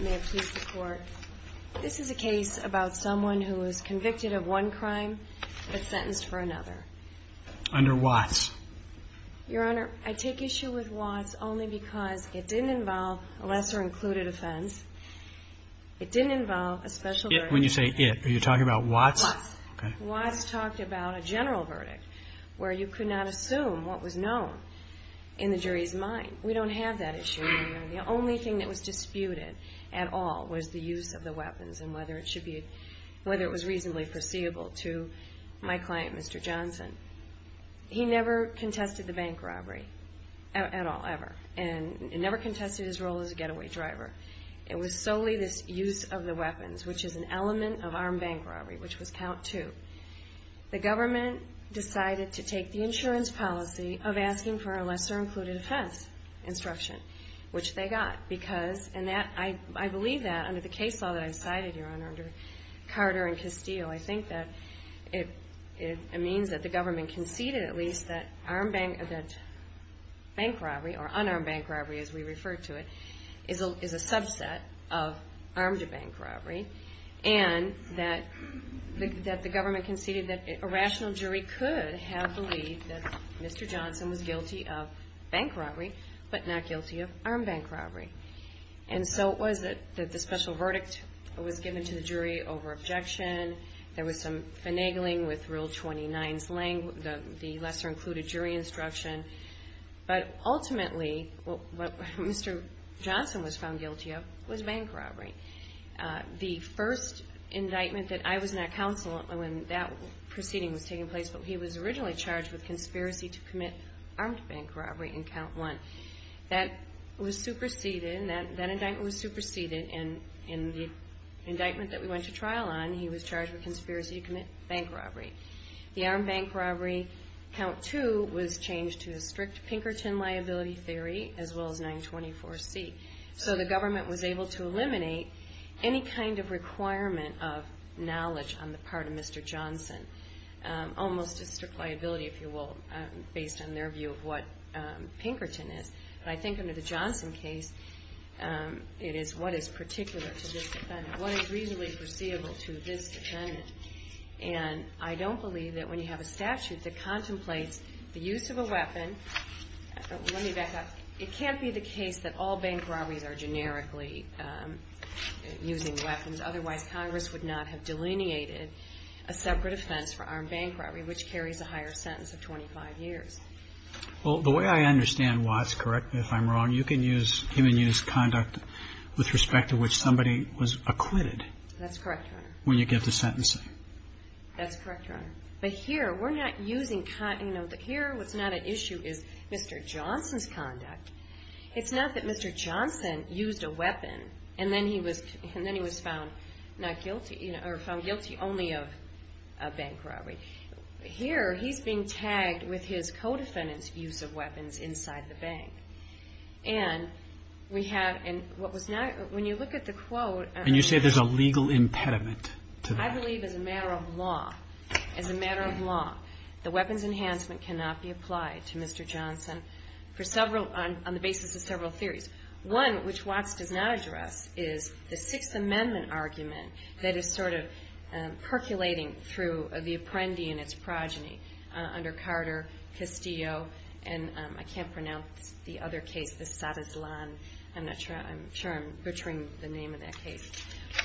May it please the Court, this is a case about someone who is convicted of one crime but sentenced for another. Under Watts. Your Honor, I take issue with Watts only because it didn't involve a lesser-included offense. It didn't involve a special verdict. When you say it, are you talking about Watts? Watts. Watts talked about a general verdict where you could not assume what was known in the jury's mind. We don't have that issue. The only thing that was disputed at all was the use of the weapons and whether it should be, whether it was reasonably foreseeable to my client, Mr. Johnson. He never contested the bank robbery at all, ever. And never contested his role as a getaway driver. It was solely this use of the weapons, which is an insurance policy of asking for a lesser-included offense instruction, which they got. Because, and that, I believe that under the case law that I cited, Your Honor, under Carter and Castillo, I think that it means that the government conceded at least that bank robbery, or unarmed bank robbery as we refer to it, is a subset of armed bank robbery. And that the government conceded that a rational jury could have believed that Mr. Johnson was guilty of bank robbery, but not guilty of armed bank robbery. And so it was that the special verdict was given to the jury over objection. There was some finagling with Rule 29's language, the lesser-included jury instruction. But ultimately, what Mr. Johnson was found guilty of was bank robbery. The first indictment that I was not counsel when that proceeding was taking place, but he was originally charged with conspiracy to commit armed bank robbery in Count 1. That was superseded, that indictment was superseded, and in the indictment that we went to trial on, he was charged with conspiracy to commit bank robbery. The armed bank robbery, Count 2, was changed to a strict Pinkerton liability theory, as well as 924C. So the government was able to eliminate any kind of requirement of knowledge on the part of Mr. Johnson. Almost just a liability, if you will, based on their view of what Pinkerton is. But I think under the Johnson case, it is what is particular to this defendant, what is reasonably foreseeable to this defendant. And I don't believe that when you have a statute that contemplates the use of a weapon, let me back up, it can't be the case that all bank robberies are generically using weapons. Otherwise, Congress would not have delineated a separate offense for armed bank robbery, which carries a higher sentence of 25 years. Well, the way I understand Watts, correct me if I'm wrong, you can use human use conduct with respect to which somebody was acquitted. That's correct, Your Honor. When you give the sentencing. That's correct, Your Honor. But here, we're not using, you know, here what's not at issue is Mr. Johnson's conduct. It's not that Mr. Johnson used a weapon, and then he was found not guilty, or found guilty only of a bank robbery. Here, he's being tagged with his co-defendant's use of weapons inside the bank. And we have, and what was not, when you look at the quote. And you say there's a legal impediment to that. I believe as a matter of law, as a matter of law, the weapons enhancement cannot be applied to Mr. Johnson for several, on the basis of several theories. One, which Watts does not address, is the Sixth Amendment argument that is sort of percolating through the Apprendi and its progeny under Carter, Castillo, and I can't pronounce the other case, the Sadezlan, I'm not sure, I'm sure I'm familiar with the name of that case.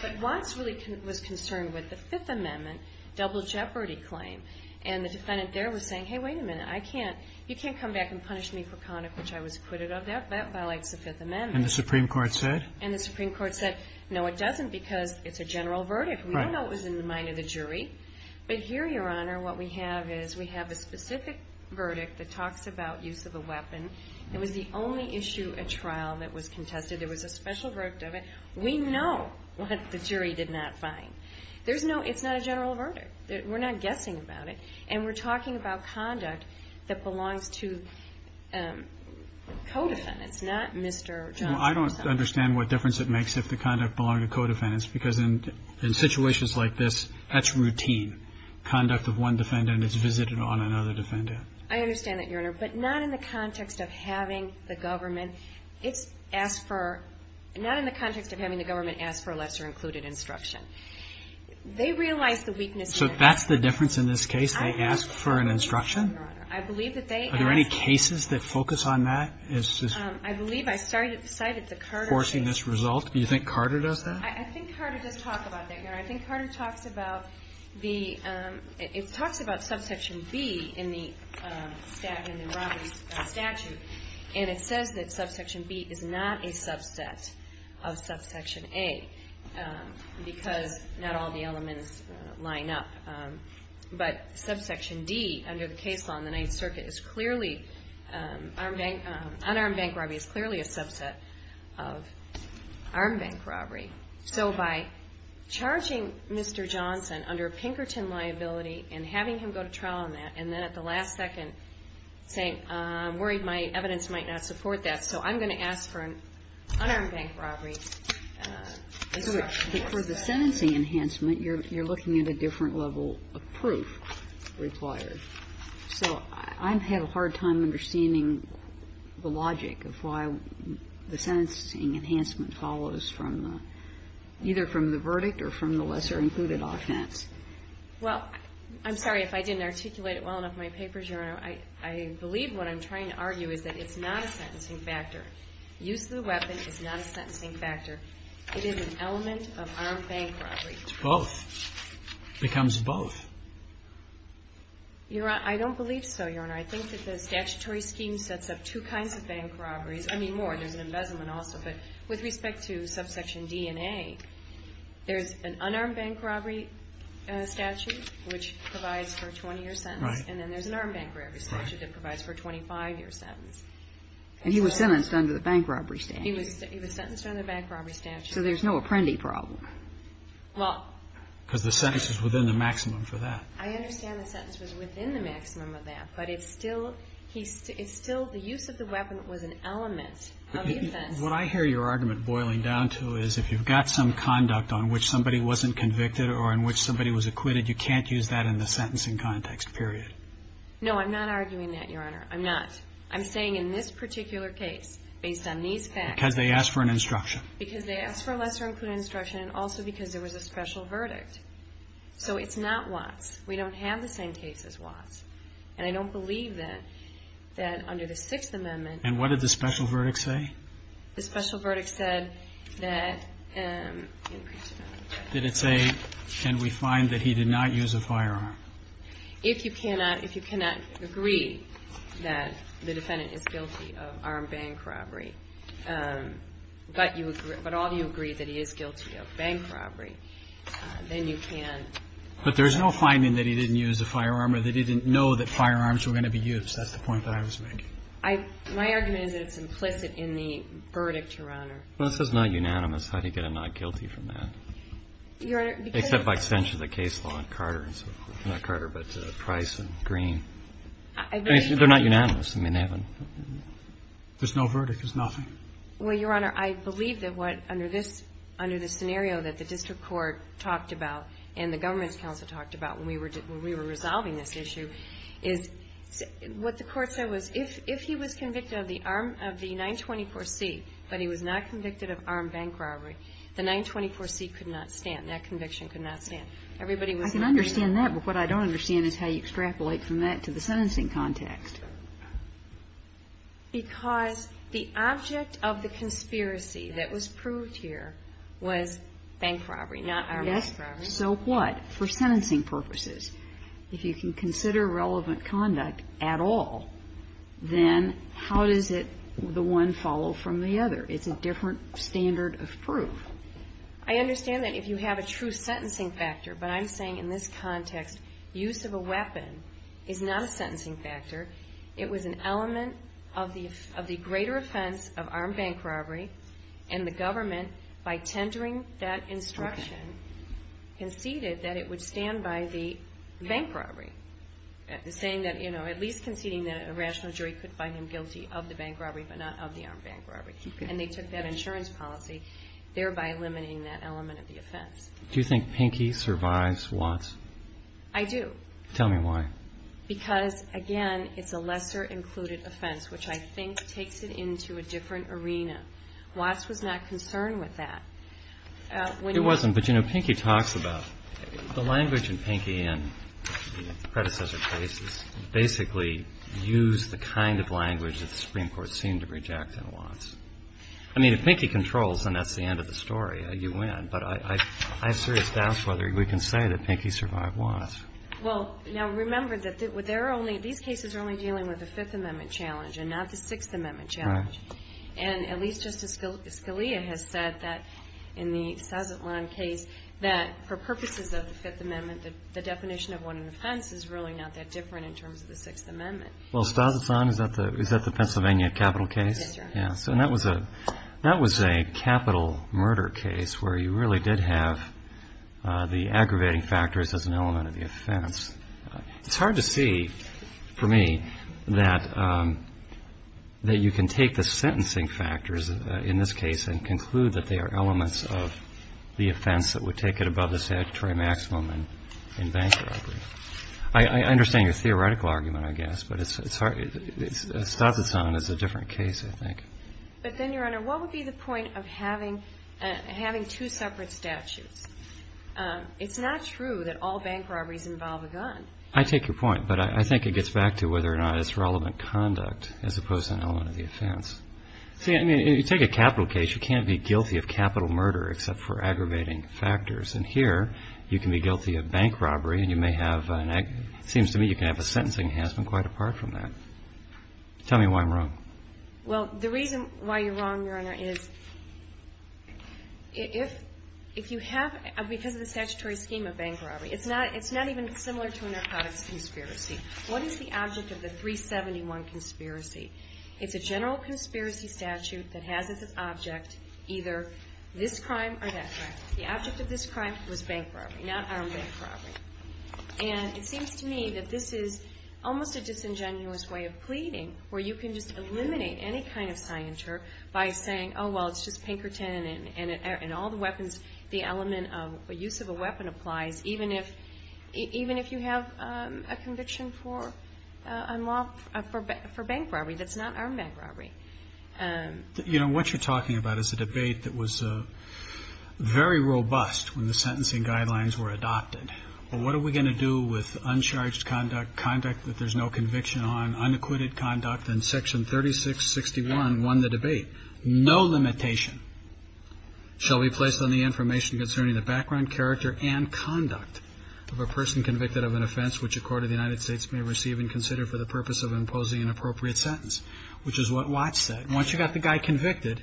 But Watts really was concerned with the Fifth Amendment double jeopardy claim. And the defendant there was saying, hey, wait a minute, I can't, you can't come back and punish me for conduct which I was acquitted of. That violates the Fifth Amendment. And the Supreme Court said? And the Supreme Court said, no, it doesn't, because it's a general verdict. We don't know what was in the mind of the jury. But here, Your Honor, what we have is, we have a specific verdict that talks about use of a weapon. It was the only issue at trial that was used. We know what the jury did not find. There's no, it's not a general verdict. We're not guessing about it. And we're talking about conduct that belongs to co-defendants, not Mr. Johnson. Well, I don't understand what difference it makes if the conduct belonged to co-defendants, because in situations like this, that's routine. Conduct of one defendant is visited on another defendant. I understand that, Your Honor. But not in the context of having the government, it's asked for, not in the context of having the government ask for a lesser-included instruction. They realize the weakness in this case. So that's the difference in this case? They ask for an instruction? I believe that they ask for an instruction, Your Honor. I believe that they ask for an instruction, Your Honor. Are there any cases that focus on that? I believe I cited the Carter case. Forcing this result? Do you think Carter does that? I think Carter does talk about that, Your Honor. I think Carter talks about the, it talks about subsection B in the statute. And it says that subsection B is not a subset of subsection A, because not all the elements line up. But subsection D, under the case law in the Ninth Circuit, is clearly, unarmed bank robbery is clearly a subset of armed bank robbery. So by charging Mr. Johnson under Pinkerton liability and having him go to trial on that, and then at the last second saying, I'm worried my evidence might not support that, so I'm going to ask for an unarmed bank robbery. For the sentencing enhancement, you're looking at a different level of proof required. So I've had a hard time understanding the logic of why the sentencing enhancement follows from the, either from the verdict or from the lesser included offense. Well, I'm sorry if I didn't articulate it well enough in my papers, Your Honor. I believe what I'm trying to argue is that it's not a sentencing factor. Use of the weapon is not a sentencing factor. It is an element of armed bank robbery. It's both. It becomes both. Your Honor, I don't believe so, Your Honor. I think that the statutory scheme sets up two kinds of bank robberies. I mean, more. There's an embezzlement also. But with respect to subsection D and A, there's an unarmed bank robbery statute, which provides for a 20-year sentence. Right. And then there's an armed bank robbery statute that provides for a 25-year sentence. And he was sentenced under the bank robbery statute. He was sentenced under the bank robbery statute. So there's no apprendi problem. Well. Because the sentence is within the maximum for that. I understand the sentence was within the maximum of that, but it's still the use of the weapon was an element of the offense. What I hear your argument boiling down to is if you've got some conduct on which somebody wasn't convicted or in which somebody was acquitted, you can't use that in the sentencing context, period. No, I'm not arguing that, Your Honor. I'm not. I'm saying in this particular case, based on these facts. Because they asked for an instruction. Because they asked for a lesser included instruction and also because there was a special verdict. So it's not Watts. We don't have the same case as Watts. And I don't believe that under the Sixth Amendment. And what did the special verdict say? The special verdict said that. Did it say, can we find that he did not use a firearm? If you cannot, if you cannot agree that the defendant is guilty of armed bank robbery, but you agree, but all of you agree that he is guilty of bank robbery, then you can't. But there's no finding that he didn't use a firearm or that he didn't know that firearms were going to be used. That's the point that I was making. I, my argument is that it's implicit in the verdict, Your Honor. Well, this is not unanimous. I think that I'm not guilty from that. Your Honor, because. Except by extension of the case law in Carter and so forth. Not Carter, but Price and Green. I agree. They're not unanimous. I mean, they haven't. There's no verdict. There's nothing. Well, Your Honor, I believe that what, under this, under the scenario that the district court talked about and the government's counsel talked about when we were, when we were resolving this issue, is what the court said was if, if he was convicted of the armed, of the 924C, but he was not convicted of armed bank robbery, the 924C could not stand. That conviction could not stand. Everybody was. I can understand that. But what I don't understand is how you extrapolate from that to the sentencing context. Because the object of the conspiracy that was proved here was bank robbery, not armed bank robbery. Yes. So what? For sentencing purposes. If you can consider relevant conduct at all, then how does it, the one follow from the other? It's a different standard of proof. I understand that if you have a true sentencing factor. But I'm saying in this context, use of a weapon is not a sentencing factor. It was an element of the, of the greater offense of armed bank robbery. And the government, by tendering that instruction, conceded that it would stand by the bank robbery. Saying that, you know, at least conceding that a rational jury could find him guilty of the bank robbery, but not of the armed bank robbery. And they took that insurance policy, thereby limiting that element of the offense. Do you think Pinky survives Watts? I do. Tell me why. Because, again, it's a lesser included offense, which I think takes it into a different arena. Watts was not concerned with that. It wasn't, but you know, Pinky talks about the language in Pinky and the predecessor cases basically used the kind of language that the Supreme Court seemed to reject in Watts. I mean, if Pinky controls, then that's the end of the story. You win. But I have serious doubts whether we can say that Pinky survived Watts. Well, now, remember that there are only, these cases are only dealing with the Fifth Amendment challenge and not the Sixth Amendment challenge. Right. And at least Justice Scalia has said that in the Sazatlan case, that for purposes of the Fifth Amendment, the definition of what an offense is really not that different in terms of the Sixth Amendment. Well, Sazatlan, is that the Pennsylvania capital case? That's right. Yeah. So that was a capital murder case where you really did have the aggravating factors as an element of the offense. It's hard to see, for me, that you can take the sentencing factors in this case and conclude that they are elements of the offense that would take it above the statutory maximum in bank robbery. I understand your theoretical argument, I guess, but Sazatlan is a different case, I think. But then, Your Honor, what would be the point of having two separate statutes? It's not true that all bank robberies involve a gun. I take your point, but I think it gets back to whether or not it's relevant conduct as opposed to an element of the offense. See, I mean, you take a capital case, you can't be guilty of capital murder except for aggravating factors. And here, you can be guilty of bank robbery, and you may have an act – it seems to me you can have a sentencing enhancement quite apart from that. Tell me why I'm wrong. Well, the reason why you're wrong, Your Honor, is if you have – because of the statutory scheme of bank robbery, it's not even similar to a narcotics conspiracy. What is the object of the 371 conspiracy? It's a general conspiracy statute that has as its object either this crime or that crime. The object of this crime was bank robbery, not armed bank robbery. And it seems to me that this is almost a disingenuous way of pleading, where you can just eliminate any kind of scienter by saying, oh, well, it's just Pinkerton, and all the weapons – the element of use of a weapon applies even if you have a conviction for bank robbery that's not armed bank robbery. You know, what you're talking about is a debate that was very robust when the sentencing guidelines were adopted. Well, what are we going to do with uncharged conduct, conduct that there's no conviction on, unacquitted conduct, and Section 3661 won the debate. No limitation shall be placed on the information concerning the background, character, and conduct of a person convicted of an offense which a court of the United States may receive and consider for the purpose of imposing an appropriate sentence, which is what Watts said. Once you've got the guy convicted,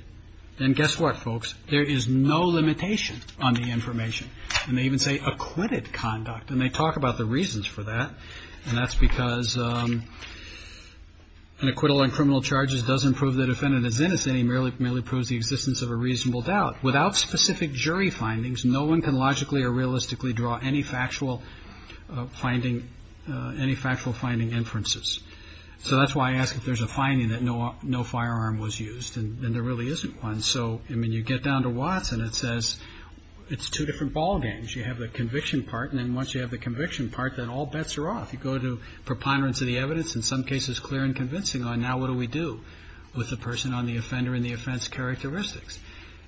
then guess what, folks? There is no limitation on the information. And they even say acquitted conduct, and they talk about the reasons for that, and that's because an acquittal on criminal charges doesn't prove the defendant is innocent. It merely proves the existence of a reasonable doubt. Without specific jury findings, no one can logically or realistically draw any factual finding inferences. So that's why I ask if there's a finding that no firearm was used, and there really isn't one. So, I mean, you get down to Watts, and it says it's two different ball games. You have the conviction part, and then once you have the conviction part, then all bets are off. You go to preponderance of the evidence, in some cases clear and convincing on, now what do we do with the person on the offender and the offense characteristics?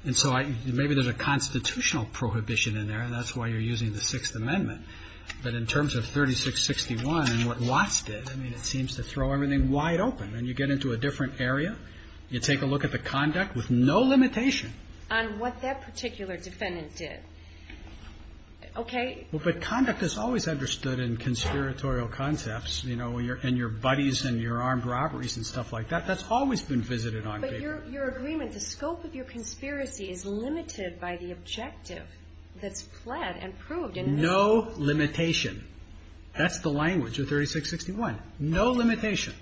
And so maybe there's a constitutional prohibition in there, and that's why you're using the Sixth Amendment. But in terms of 3661 and what Watts did, I mean, it seems to throw everything wide open. And you get into a different area. You take a look at the conduct with no limitation on what that particular defendant did. Okay. Well, but conduct is always understood in conspiratorial concepts, you know, and your buddies and your armed robberies and stuff like that. That's always been visited on people. But your agreement, the scope of your conspiracy is limited by the objective that's fled and proved. No limitation. That's the language of 3661. No limitation.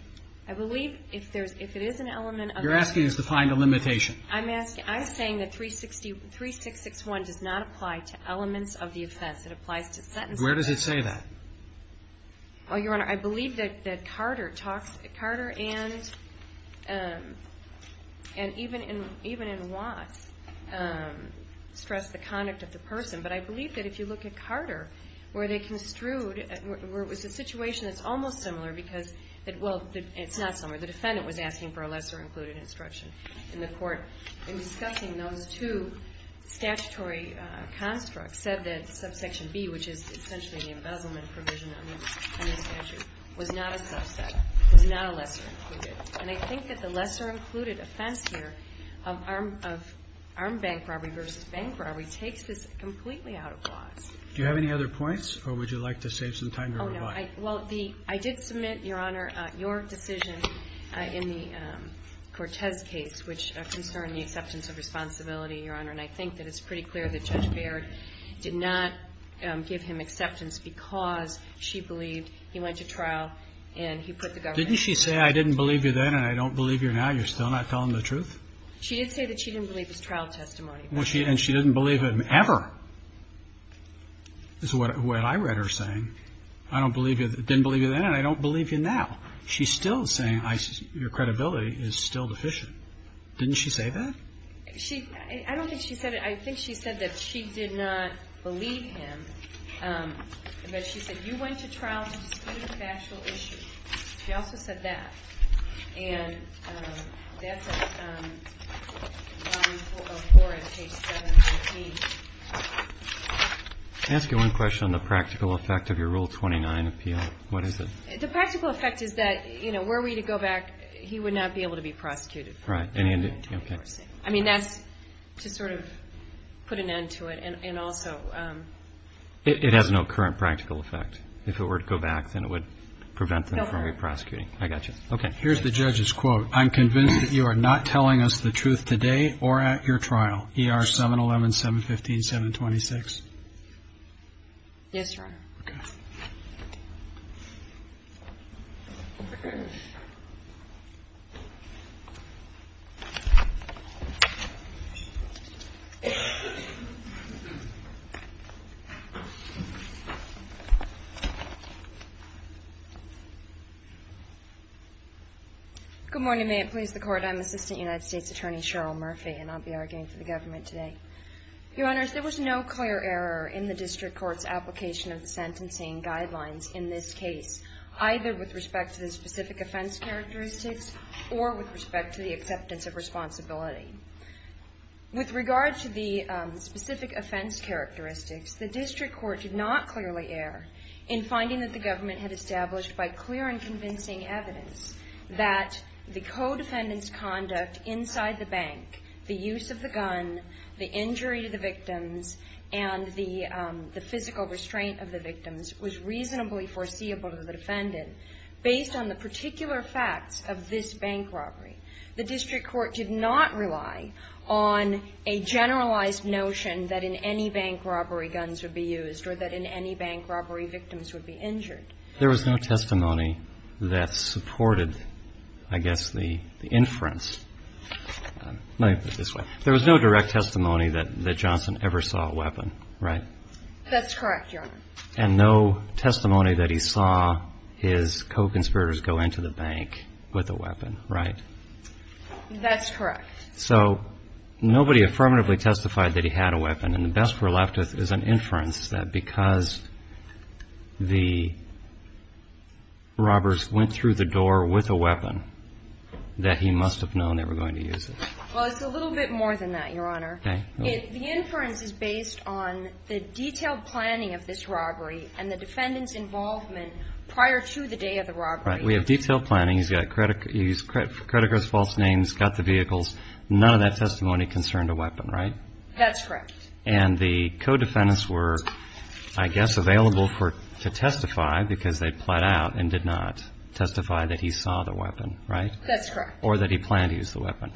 I believe if there's an element of it. You're asking us to find a limitation. I'm asking, I'm saying that 3661 does not apply to elements of the offense. It applies to sentences. Where does it say that? Well, Your Honor, I believe that Carter talks, Carter and even in Watts stressed the conduct of the person. But I believe that if you look at Carter, where they construed, where it was a situation that's almost similar because, well, it's not similar. The defendant was asking for a lesser included instruction in the court. In discussing those two statutory constructs, said that subsection B, which is essentially the embezzlement provision in the statute, was not a subset, was not a lesser included. And I think that the lesser included offense here of armed bank robbery versus bank robbery takes this completely out of Watts. Do you have any other points, or would you like to save some time to rebut? Oh, no. Well, I did submit, Your Honor, your decision in the Cortez case, which concerned the acceptance of responsibility, Your Honor. And I think that it's pretty clear that Judge Baird did not give him acceptance because she believed he went to trial and he put the government at risk. Didn't she say, I didn't believe you then and I don't believe you now? You're still not telling the truth? She did say that she didn't believe his trial testimony. And she didn't believe him ever, is what I read her saying. I didn't believe you then and I don't believe you now. She's still saying your credibility is still deficient. Didn't she say that? I don't think she said it. I think she said that she did not believe him. But she said you went to trial to dispute a factual issue. She also said that. And that's a line of four in page 718. Can I ask you one question on the practical effect of your Rule 29 appeal? What is it? The practical effect is that were we to go back, he would not be able to be prosecuted. Right. I mean, that's to sort of put an end to it. It has no current practical effect. If it were to go back, then it would prevent them from re-prosecuting. I got you. Okay. Here's the judge's quote. I'm convinced that you are not telling us the truth today or at your trial. ER 711-715-726. Yes, Your Honor. Okay. Good morning. May it please the Court. I'm Assistant United States Attorney Cheryl Murphy, and I'll be arguing for the government today. Your Honors, there was no clear error in the district court's application of the sentencing guidelines in this case, either with respect to the specific offense characteristics or with respect to the acceptance of responsibility. With regard to the specific offense characteristics, the district court did not clearly err in finding that the government had established by clear and convincing evidence that the co-defendant's conduct inside the bank, the use of the gun, the injury to the victims, and the physical restraint of the victims was reasonably foreseeable to the defendant, based on the particular facts of this bank robbery. The district court did not rely on a generalized notion that in any bank robbery, guns would be used or that in any bank robbery, victims would be injured. There was no testimony that supported, I guess, the inference. Let me put it this way. There was no direct testimony that Johnson ever saw a weapon, right? That's correct, Your Honor. And no testimony that he saw his co-conspirators go into the bank with a weapon, right? That's correct. So nobody affirmatively testified that he had a weapon, and the best we're left with is an inference that because the robbers went through the door with a weapon, that he must have known they were going to use it. Well, it's a little bit more than that, Your Honor. Okay. The inference is based on the detailed planning of this robbery and the defendant's involvement prior to the day of the robbery. Right. We have detailed planning. He's got credit cards, false names, got the vehicles. None of that testimony concerned a weapon, right? That's correct. And the co-defendants were, I guess, available to testify because they pled out and did not testify that he saw the weapon, right? That's correct. Or that he planned to use the weapon.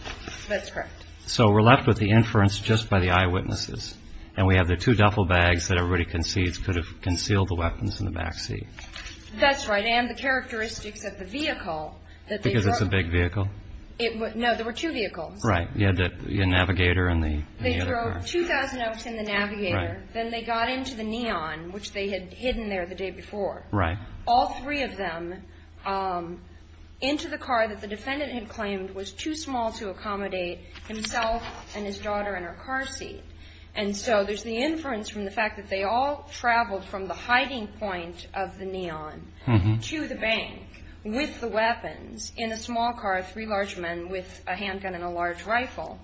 That's correct. So we're left with the inference just by the eyewitnesses. And we have the two duffel bags that everybody concedes could have concealed the weapons in the backseat. That's right. And the characteristics of the vehicle that they drove. Because it's a big vehicle? No, there were two vehicles. Right. You had the navigator and the other car. They drove 2,000 oaks in the navigator. Right. Then they got into the Neon, which they had hidden there the day before. Right. All three of them into the car that the defendant had claimed was too small to accommodate himself and his daughter in her car seat. And so there's the inference from the fact that they all traveled from the hiding point of the Neon to the bank with the weapons in a small car, three large men with a handgun and a large rifle,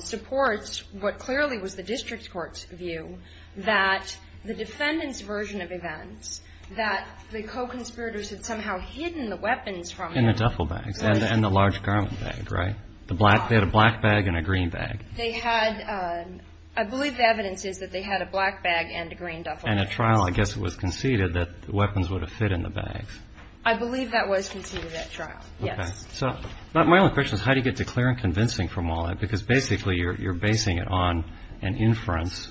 supports what clearly was the district court's view that the defendant's version of events, that the co-conspirators had somehow hidden the weapons from them. In the duffel bags. Right. And the large garment bag, right? They had a black bag and a green bag. They had, I believe the evidence is that they had a black bag and a green duffel bag. And at trial I guess it was conceded that the weapons would have fit in the bags. I believe that was conceded at trial, yes. Okay. So my only question is how do you get to clear and convincing from all that? Because basically you're basing it on an inference.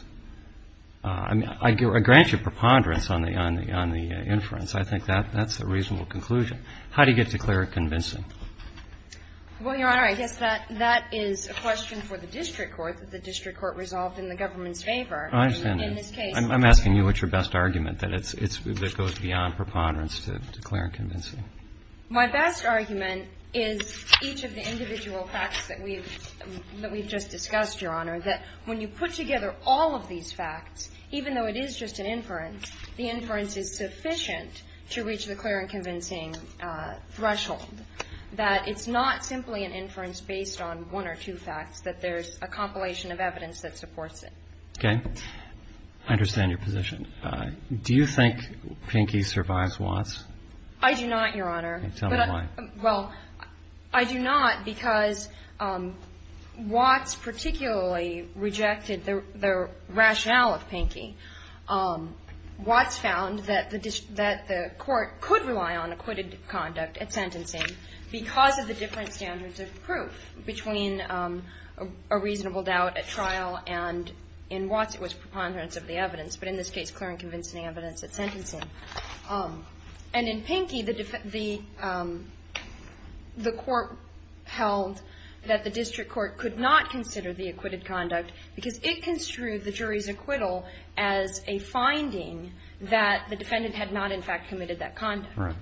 I grant you preponderance on the inference. I think that's a reasonable conclusion. How do you get to clear and convincing? Well, Your Honor, I guess that is a question for the district court, that the district court resolved in the government's favor. I understand that. In this case. I'm asking you what's your best argument, that it goes beyond preponderance to clear and convincing. My best argument is each of the individual facts that we've just discussed, Your Honor, that when you put together all of these facts, even though it is just an inference, the inference is sufficient to reach the clear and convincing threshold, that it's not simply an inference based on one or two facts, that there's a compilation of evidence that supports it. Okay. I understand your position. Do you think Pinky survives Watts? I do not, Your Honor. Tell me why. Well, I do not because Watts particularly rejected the rationale of Pinky. Watts found that the court could rely on acquitted conduct at sentencing because of the different standards of proof between a reasonable doubt at trial and in Watts it was preponderance of the evidence. But in this case, clear and convincing evidence at sentencing. And in Pinky, the court held that the district court could not consider the acquitted conduct because it construed the jury's acquittal as a finding that the defendant had not in fact committed that conduct. Correct.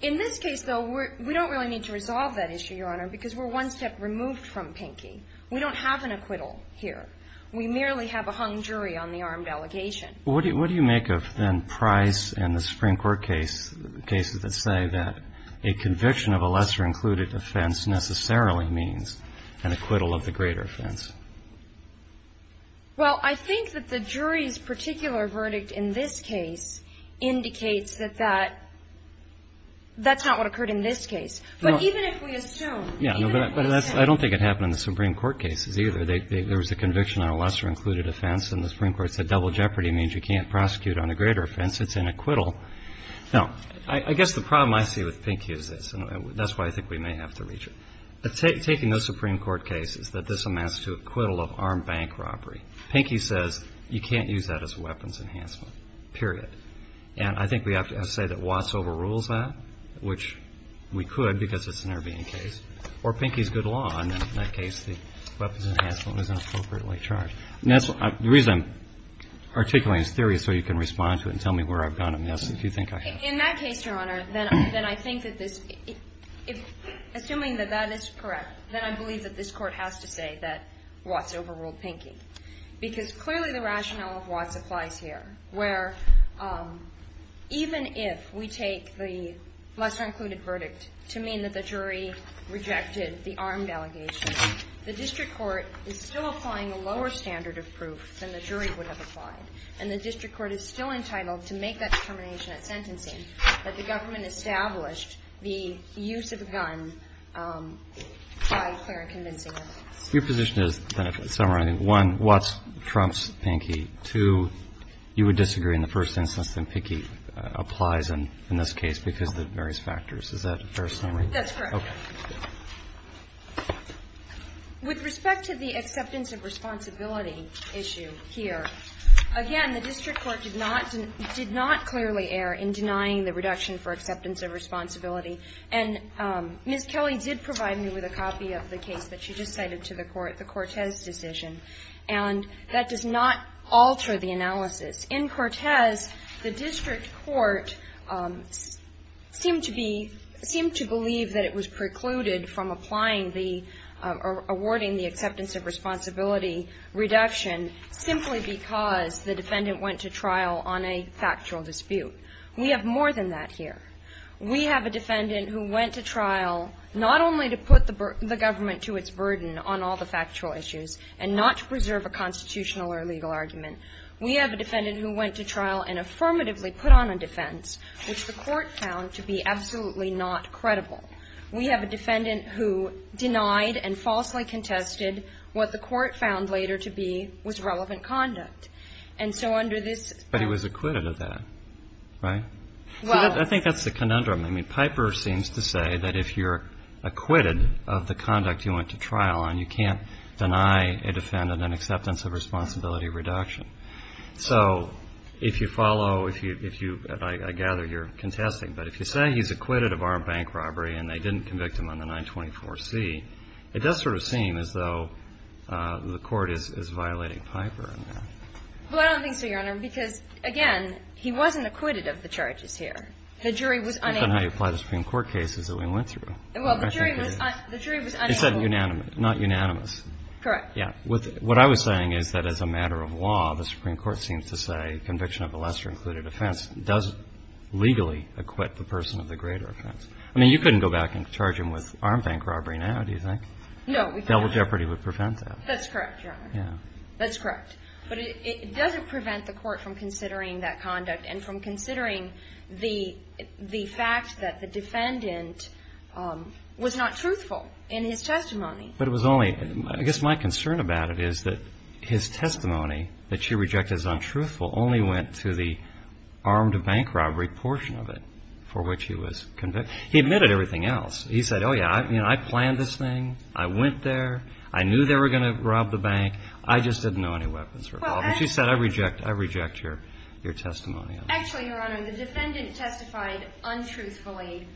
In this case, though, we don't really need to resolve that issue, Your Honor, because we're one step removed from Pinky. We don't have an acquittal here. We merely have a hung jury on the armed allegation. What do you make of, then, Price and the Supreme Court cases that say that a conviction of a lesser-included offense necessarily means an acquittal of the greater offense? Well, I think that the jury's particular verdict in this case indicates that that's not what occurred in this case. But even if we assume, even if we assume. I don't think it happened in the Supreme Court cases either. There was a conviction on a lesser-included offense, and the Supreme Court said double jeopardy means you can't prosecute on a greater offense. It's an acquittal. Now, I guess the problem I see with Pinky is this, and that's why I think we may have to reach it. Taking those Supreme Court cases, that this amounts to acquittal of armed bank robbery, Pinky says you can't use that as a weapons enhancement, period. And I think we have to say that Watts overrules that, which we could because it's an appropriate charge. The reason I'm articulating this theory is so you can respond to it and tell me where I've gone amiss, if you think I have. In that case, Your Honor, then I think that this, assuming that that is correct, then I believe that this Court has to say that Watts overruled Pinky, because clearly the rationale of Watts applies here, where even if we take the lesser-included verdict to mean that the jury rejected the armed allegation, the district court is still applying a lower standard of proof than the jury would have applied. And the district court is still entitled to make that determination at sentencing that the government established the use of a gun by fair and convincing evidence. Your position is, then, summarizing, one, Watts trumps Pinky. Two, you would disagree in the first instance that Pinky applies in this case because of the various factors. Is that a fair summary? That's correct. Okay. With respect to the acceptance of responsibility issue here, again, the district court did not, did not clearly err in denying the reduction for acceptance of responsibility. And Ms. Kelly did provide me with a copy of the case that she just cited to the Court, the Cortez decision, and that does not alter the analysis. In Cortez, the district court seemed to be, seemed to believe that it was precluded from applying the, awarding the acceptance of responsibility reduction simply because the defendant went to trial on a factual dispute. We have more than that here. We have a defendant who went to trial not only to put the government to its burden on all the factual issues and not to preserve a constitutional or legal argument. We have a defendant who went to trial and affirmatively put on a defense which the Court found to be absolutely not credible. We have a defendant who denied and falsely contested what the Court found later to be was relevant conduct. And so under this ---- But he was acquitted of that, right? Well ---- I think that's the conundrum. I mean, Piper seems to say that if you're acquitted of the conduct you went to trial on, you can't deny a defendant an acceptance of responsibility reduction. So if you follow, if you ---- I gather you're contesting. But if you say he's acquitted of armed bank robbery and they didn't convict him on the 924C, it does sort of seem as though the Court is violating Piper on that. Well, I don't think so, Your Honor, because, again, he wasn't acquitted of the charges here. The jury was unambiguous. But then how do you apply the Supreme Court cases that we went through? Well, the jury was unambiguous. You said unanimous, not unanimous. Correct. Yeah. What I was saying is that as a matter of law, the Supreme Court seems to say conviction of a lesser included offense does legally acquit the person of the greater offense. I mean, you couldn't go back and charge him with armed bank robbery now, do you think? No. Double jeopardy would prevent that. That's correct, Your Honor. Yeah. That's correct. But it doesn't prevent the Court from considering that conduct and from considering the fact that the defendant was not truthful in his testimony. But it was only – I guess my concern about it is that his testimony that she rejected as untruthful only went to the armed bank robbery portion of it for which he was convicted. He admitted everything else. He said, oh, yeah, I planned this thing. I went there. I knew they were going to rob the bank. I just didn't know any weapons were involved. And she said, I reject your testimony on that. Actually, Your Honor, the defendant testified untruthfully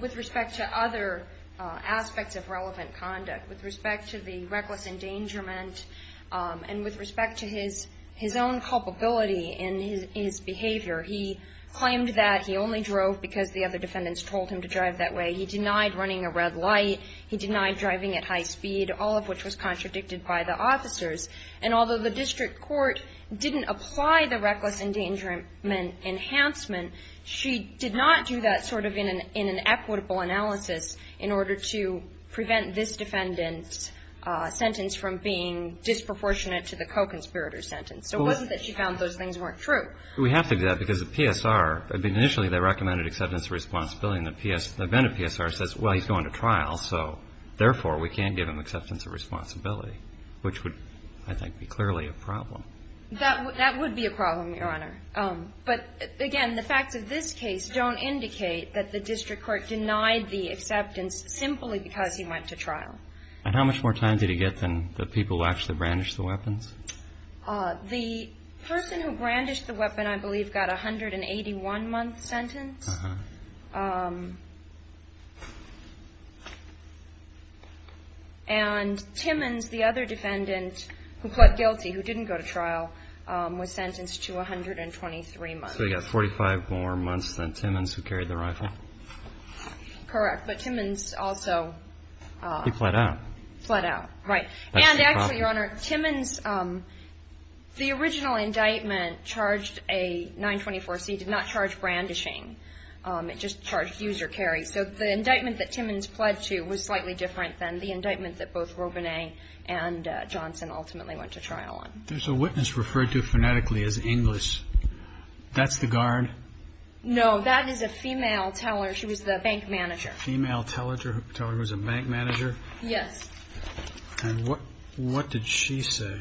with respect to other aspects of relevant conduct, with respect to the reckless endangerment and with respect to his own culpability in his behavior. He claimed that he only drove because the other defendants told him to drive that way. He denied running a red light. He denied driving at high speed, all of which was contradicted by the officers. And although the district court didn't apply the reckless endangerment enhancement, she did not do that sort of in an equitable analysis in order to prevent this defendant's sentence from being disproportionate to the co-conspirator's sentence. So it wasn't that she found those things weren't true. Well, we have to do that because the PSR – I mean, initially they recommended acceptance of responsibility. And the PS – the defendant PSR says, well, he's going to trial, so therefore we can't give him acceptance of responsibility, which would, I think, be clearly a problem. That would be a problem, Your Honor. But, again, the facts of this case don't indicate that the district court denied the acceptance simply because he went to trial. And how much more time did he get than the people who actually brandished the weapons? The person who brandished the weapon, I believe, got a 181-month sentence. And Timmons, the other defendant who pled guilty, who didn't go to trial, was sentenced to 123 months. So he got 45 more months than Timmons, who carried the rifle? Correct. But Timmons also – He pled out. Pled out. Right. And actually, Your Honor, Timmons – the original indictment charged a 924C, did not charge brandishing. It just charged use or carry. So the indictment that Timmons pled to was slightly different than the indictment that both Robinet and Johnson ultimately went to trial on. There's a witness referred to phonetically as Inglis. That's the guard? No, that is a female teller. She was the bank manager. A female teller who was a bank manager? Yes. And what did she say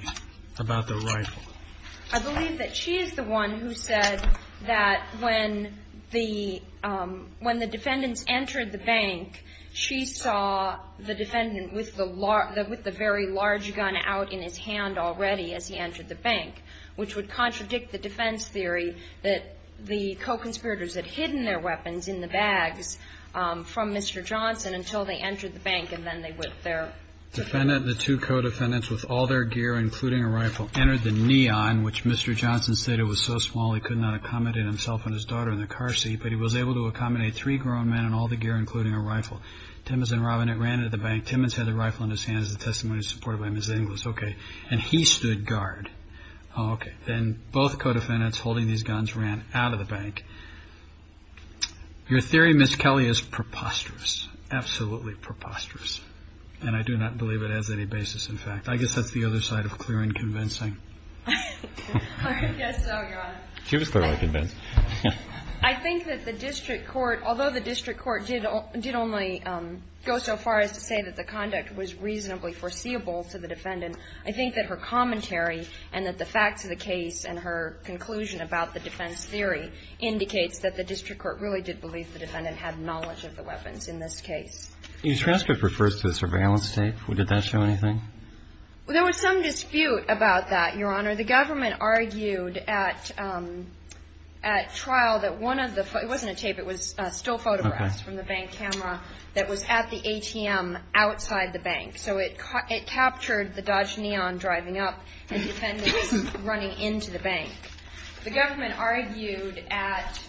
about the rifle? I believe that she is the one who said that when the defendants entered the bank, she saw the defendant with the very large gun out in his hand already as he entered the bank, which would contradict the defense theory that the co-conspirators had hidden their weapons in the bags from Mr. Johnson until they entered the bank and then they whipped their – the two co-defendants with all their gear, including a rifle, entered the neon, which Mr. Johnson said it was so small he could not accommodate himself and his daughter in the car seat, but he was able to accommodate three grown men in all the gear, including a rifle. Timmons and Robinet ran into the bank. Timmons had the rifle in his hands. The testimony was supported by Ms. Inglis. Okay. And he stood guard. Okay. Then both co-defendants holding these guns ran out of the bank. Your theory, Ms. Kelly, is preposterous, absolutely preposterous. And I do not believe it has any basis in fact. I guess that's the other side of clear and convincing. I guess so, Your Honor. She was clearly convinced. I think that the district court, although the district court did only go so far as to say that the conduct was reasonably foreseeable to the defendant, I think that her commentary and that the facts of the case and her conclusion about the defense theory indicates that the district court really did believe the defendant had knowledge of the weapons in this case. Your transcript refers to a surveillance tape. Did that show anything? Well, there was some dispute about that, Your Honor. The government argued at trial that one of the – it wasn't a tape. It was still photographs from the bank camera that was at the ATM outside the bank. So it captured the Dodge Neon driving up and defendants running into the bank. The government argued at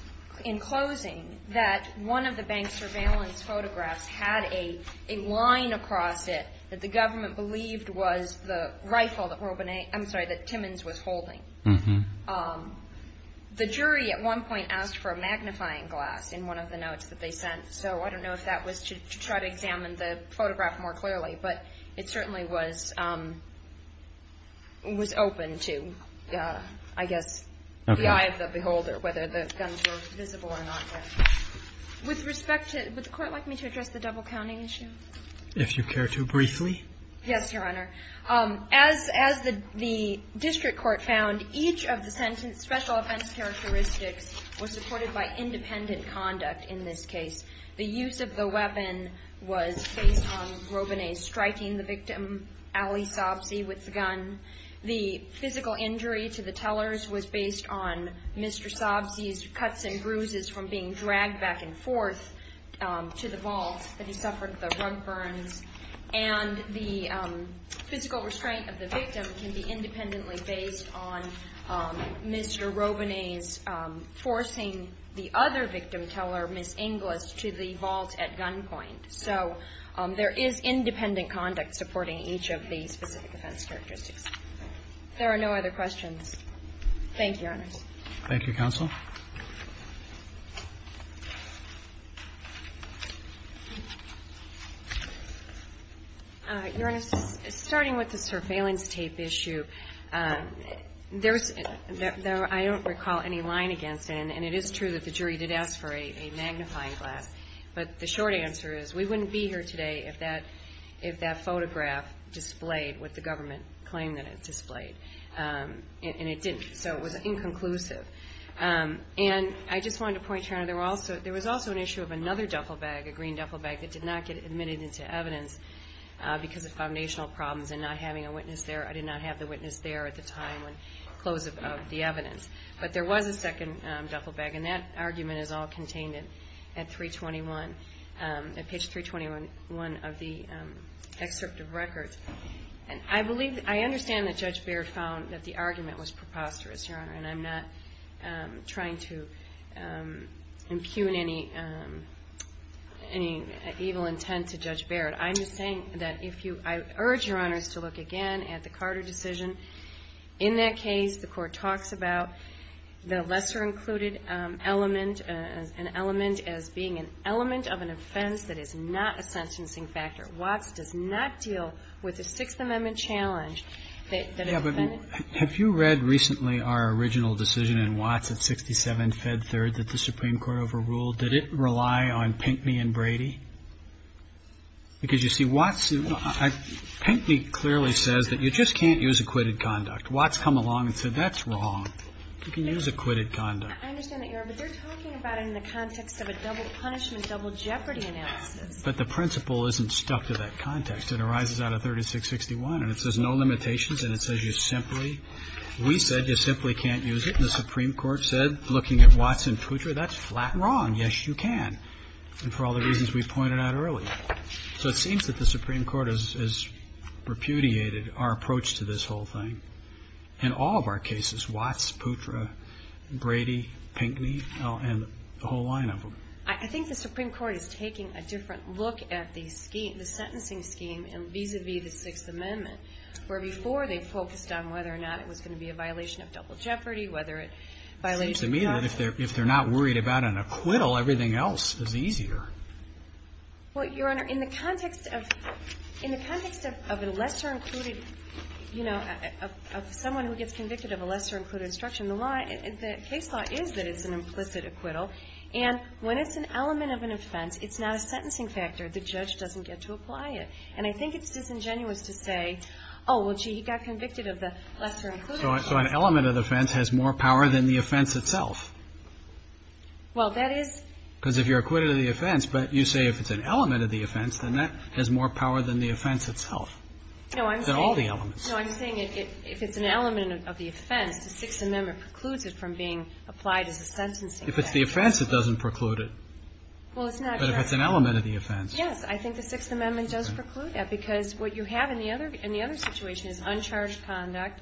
– in closing that one of the bank surveillance photographs had a line across it that the government believed was the rifle that – I'm sorry, that Timmons was holding. The jury at one point asked for a magnifying glass in one of the notes that they sent. So I don't know if that was to try to examine the photograph more clearly, but it certainly was – was open to, I guess, the eye of the beholder, whether the guns were visible or not there. With respect to – would the Court like me to address the double counting issue? If you care to, briefly. Yes, Your Honor. As the district court found, each of the sentence special offense characteristics were supported by independent conduct in this case. The use of the weapon was based on Robinez striking the victim, Allie Sobsey, with the gun. The physical injury to the tellers was based on Mr. Sobsey's cuts and bruises from being dragged back and forth to the vault, that he suffered the rug burns. And the physical restraint of the victim can be independently based on Mr. Robinez forcing the other victim teller, Ms. Inglis, to the vault at gunpoint. So there is independent conduct supporting each of the specific offense characteristics. If there are no other questions, thank you, Your Honors. Thank you, counsel. Your Honor, starting with the surveillance tape issue, there's – I don't recall any line against it, and it is true that the jury did ask for a magnifying glass. But the short answer is we wouldn't be here today if that photograph displayed what the government claimed that it displayed. And it didn't, so it was inconclusive. And I just wanted to point, Your Honor, there was also an issue of another duffel bag, a green duffel bag, that did not get admitted into evidence because of foundational problems and not having a witness there. I did not have the witness there at the time when – close of the evidence. But there was a second duffel bag, and that argument is all contained at 321, at page 321 of the excerpt of records. And I believe – I understand that Judge Baird found that the argument was preposterous, Your Honor, and I'm not trying to impugn any evil intent to Judge Baird. I'm just saying that if you – I urge Your Honors to look again at the Carter decision. In that case, the Court talks about the lesser included element, an element as being an element of an offense that is not a sentencing factor. Watts does not deal with the Sixth Amendment challenge that a defendant – Yeah, but have you read recently our original decision in Watts at 67 Fed Third that the Supreme Court overruled? Did it rely on Pinckney and Brady? Because, you see, Watts – Pinckney clearly says that you just can't use acquitted conduct. Watts come along and said, that's wrong. You can use acquitted conduct. I understand that, Your Honor, but they're talking about it in the context of a double punishment, double jeopardy analysis. But the principle isn't stuck to that context. It arises out of 3661, and it says no limitations, and it says you simply – we said you simply can't use it, and the Supreme Court said, looking at Watts and Putre, that's flat wrong. Yes, you can. And for all the reasons we pointed out earlier. So it seems that the Supreme Court has repudiated our approach to this whole thing. In all of our cases, Watts, Putre, Brady, Pinckney, and the whole line of them. I think the Supreme Court is taking a different look at the sentencing scheme vis-à-vis the Sixth Amendment, where before they focused on whether or not it was going to be a violation of double jeopardy, whether it violated conduct. It seems to me that if they're not worried about an acquittal, everything else is easier. Well, Your Honor, in the context of – in the context of a lesser-included – you know, of someone who gets convicted of a lesser-included instruction, the law – the case law is that it's an implicit acquittal. And when it's an element of an offense, it's not a sentencing factor. The judge doesn't get to apply it. And I think it's disingenuous to say, oh, well, gee, he got convicted of the lesser-included So an element of the offense has more power than the offense itself. Well, that is – Because if you're acquitted of the offense, but you say if it's an element of the offense, then that has more power than the offense itself. No, I'm saying – Than all the elements. No, I'm saying if it's an element of the offense, the Sixth Amendment precludes it from being applied as a sentencing factor. If it's the offense, it doesn't preclude it. Well, it's not – But if it's an element of the offense. Yes, I think the Sixth Amendment does preclude that, because what you have in the other – in the other situation is uncharged conduct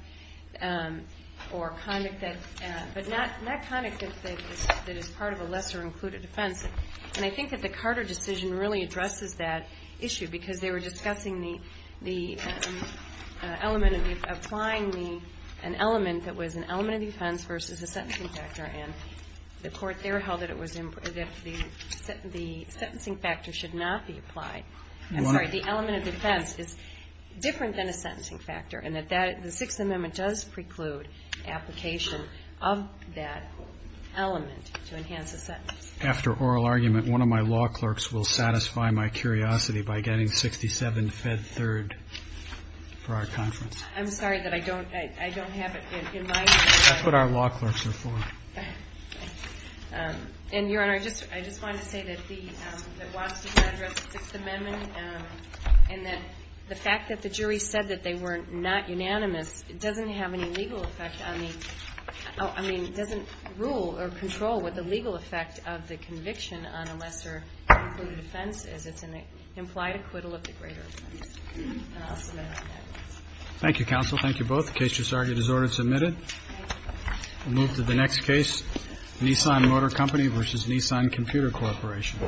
or conduct that – but not conduct that is part of a lesser-included offense. And I think that the Carter decision really addresses that issue, because they were discussing the element of applying the – an element that was an element of the offense versus a sentencing factor. And the Court there held that it was – that the sentencing factor should not be applied. I'm sorry. The element of defense is different than a sentencing factor. And that that – the Sixth Amendment does preclude application of that element to enhance a sentence. After oral argument, one of my law clerks will satisfy my curiosity by getting 67 fed third for our conference. I'm sorry that I don't – I don't have it in mind. That's what our law clerks are for. And, Your Honor, I just – I just wanted to say that the – that Watson addressed the Sixth Amendment and that the fact that the jury said that they were not unanimous, it doesn't have any legal effect on the – I mean, it doesn't rule or control what the legal effect of the conviction on a lesser-included offense is. It's an implied acquittal of the greater offense. And I'll submit it to that case. Thank you, counsel. Thank you both. The case has already been ordered and submitted. We'll move to the next case, Nissan Motor Company v. Nissan Computer Corporation.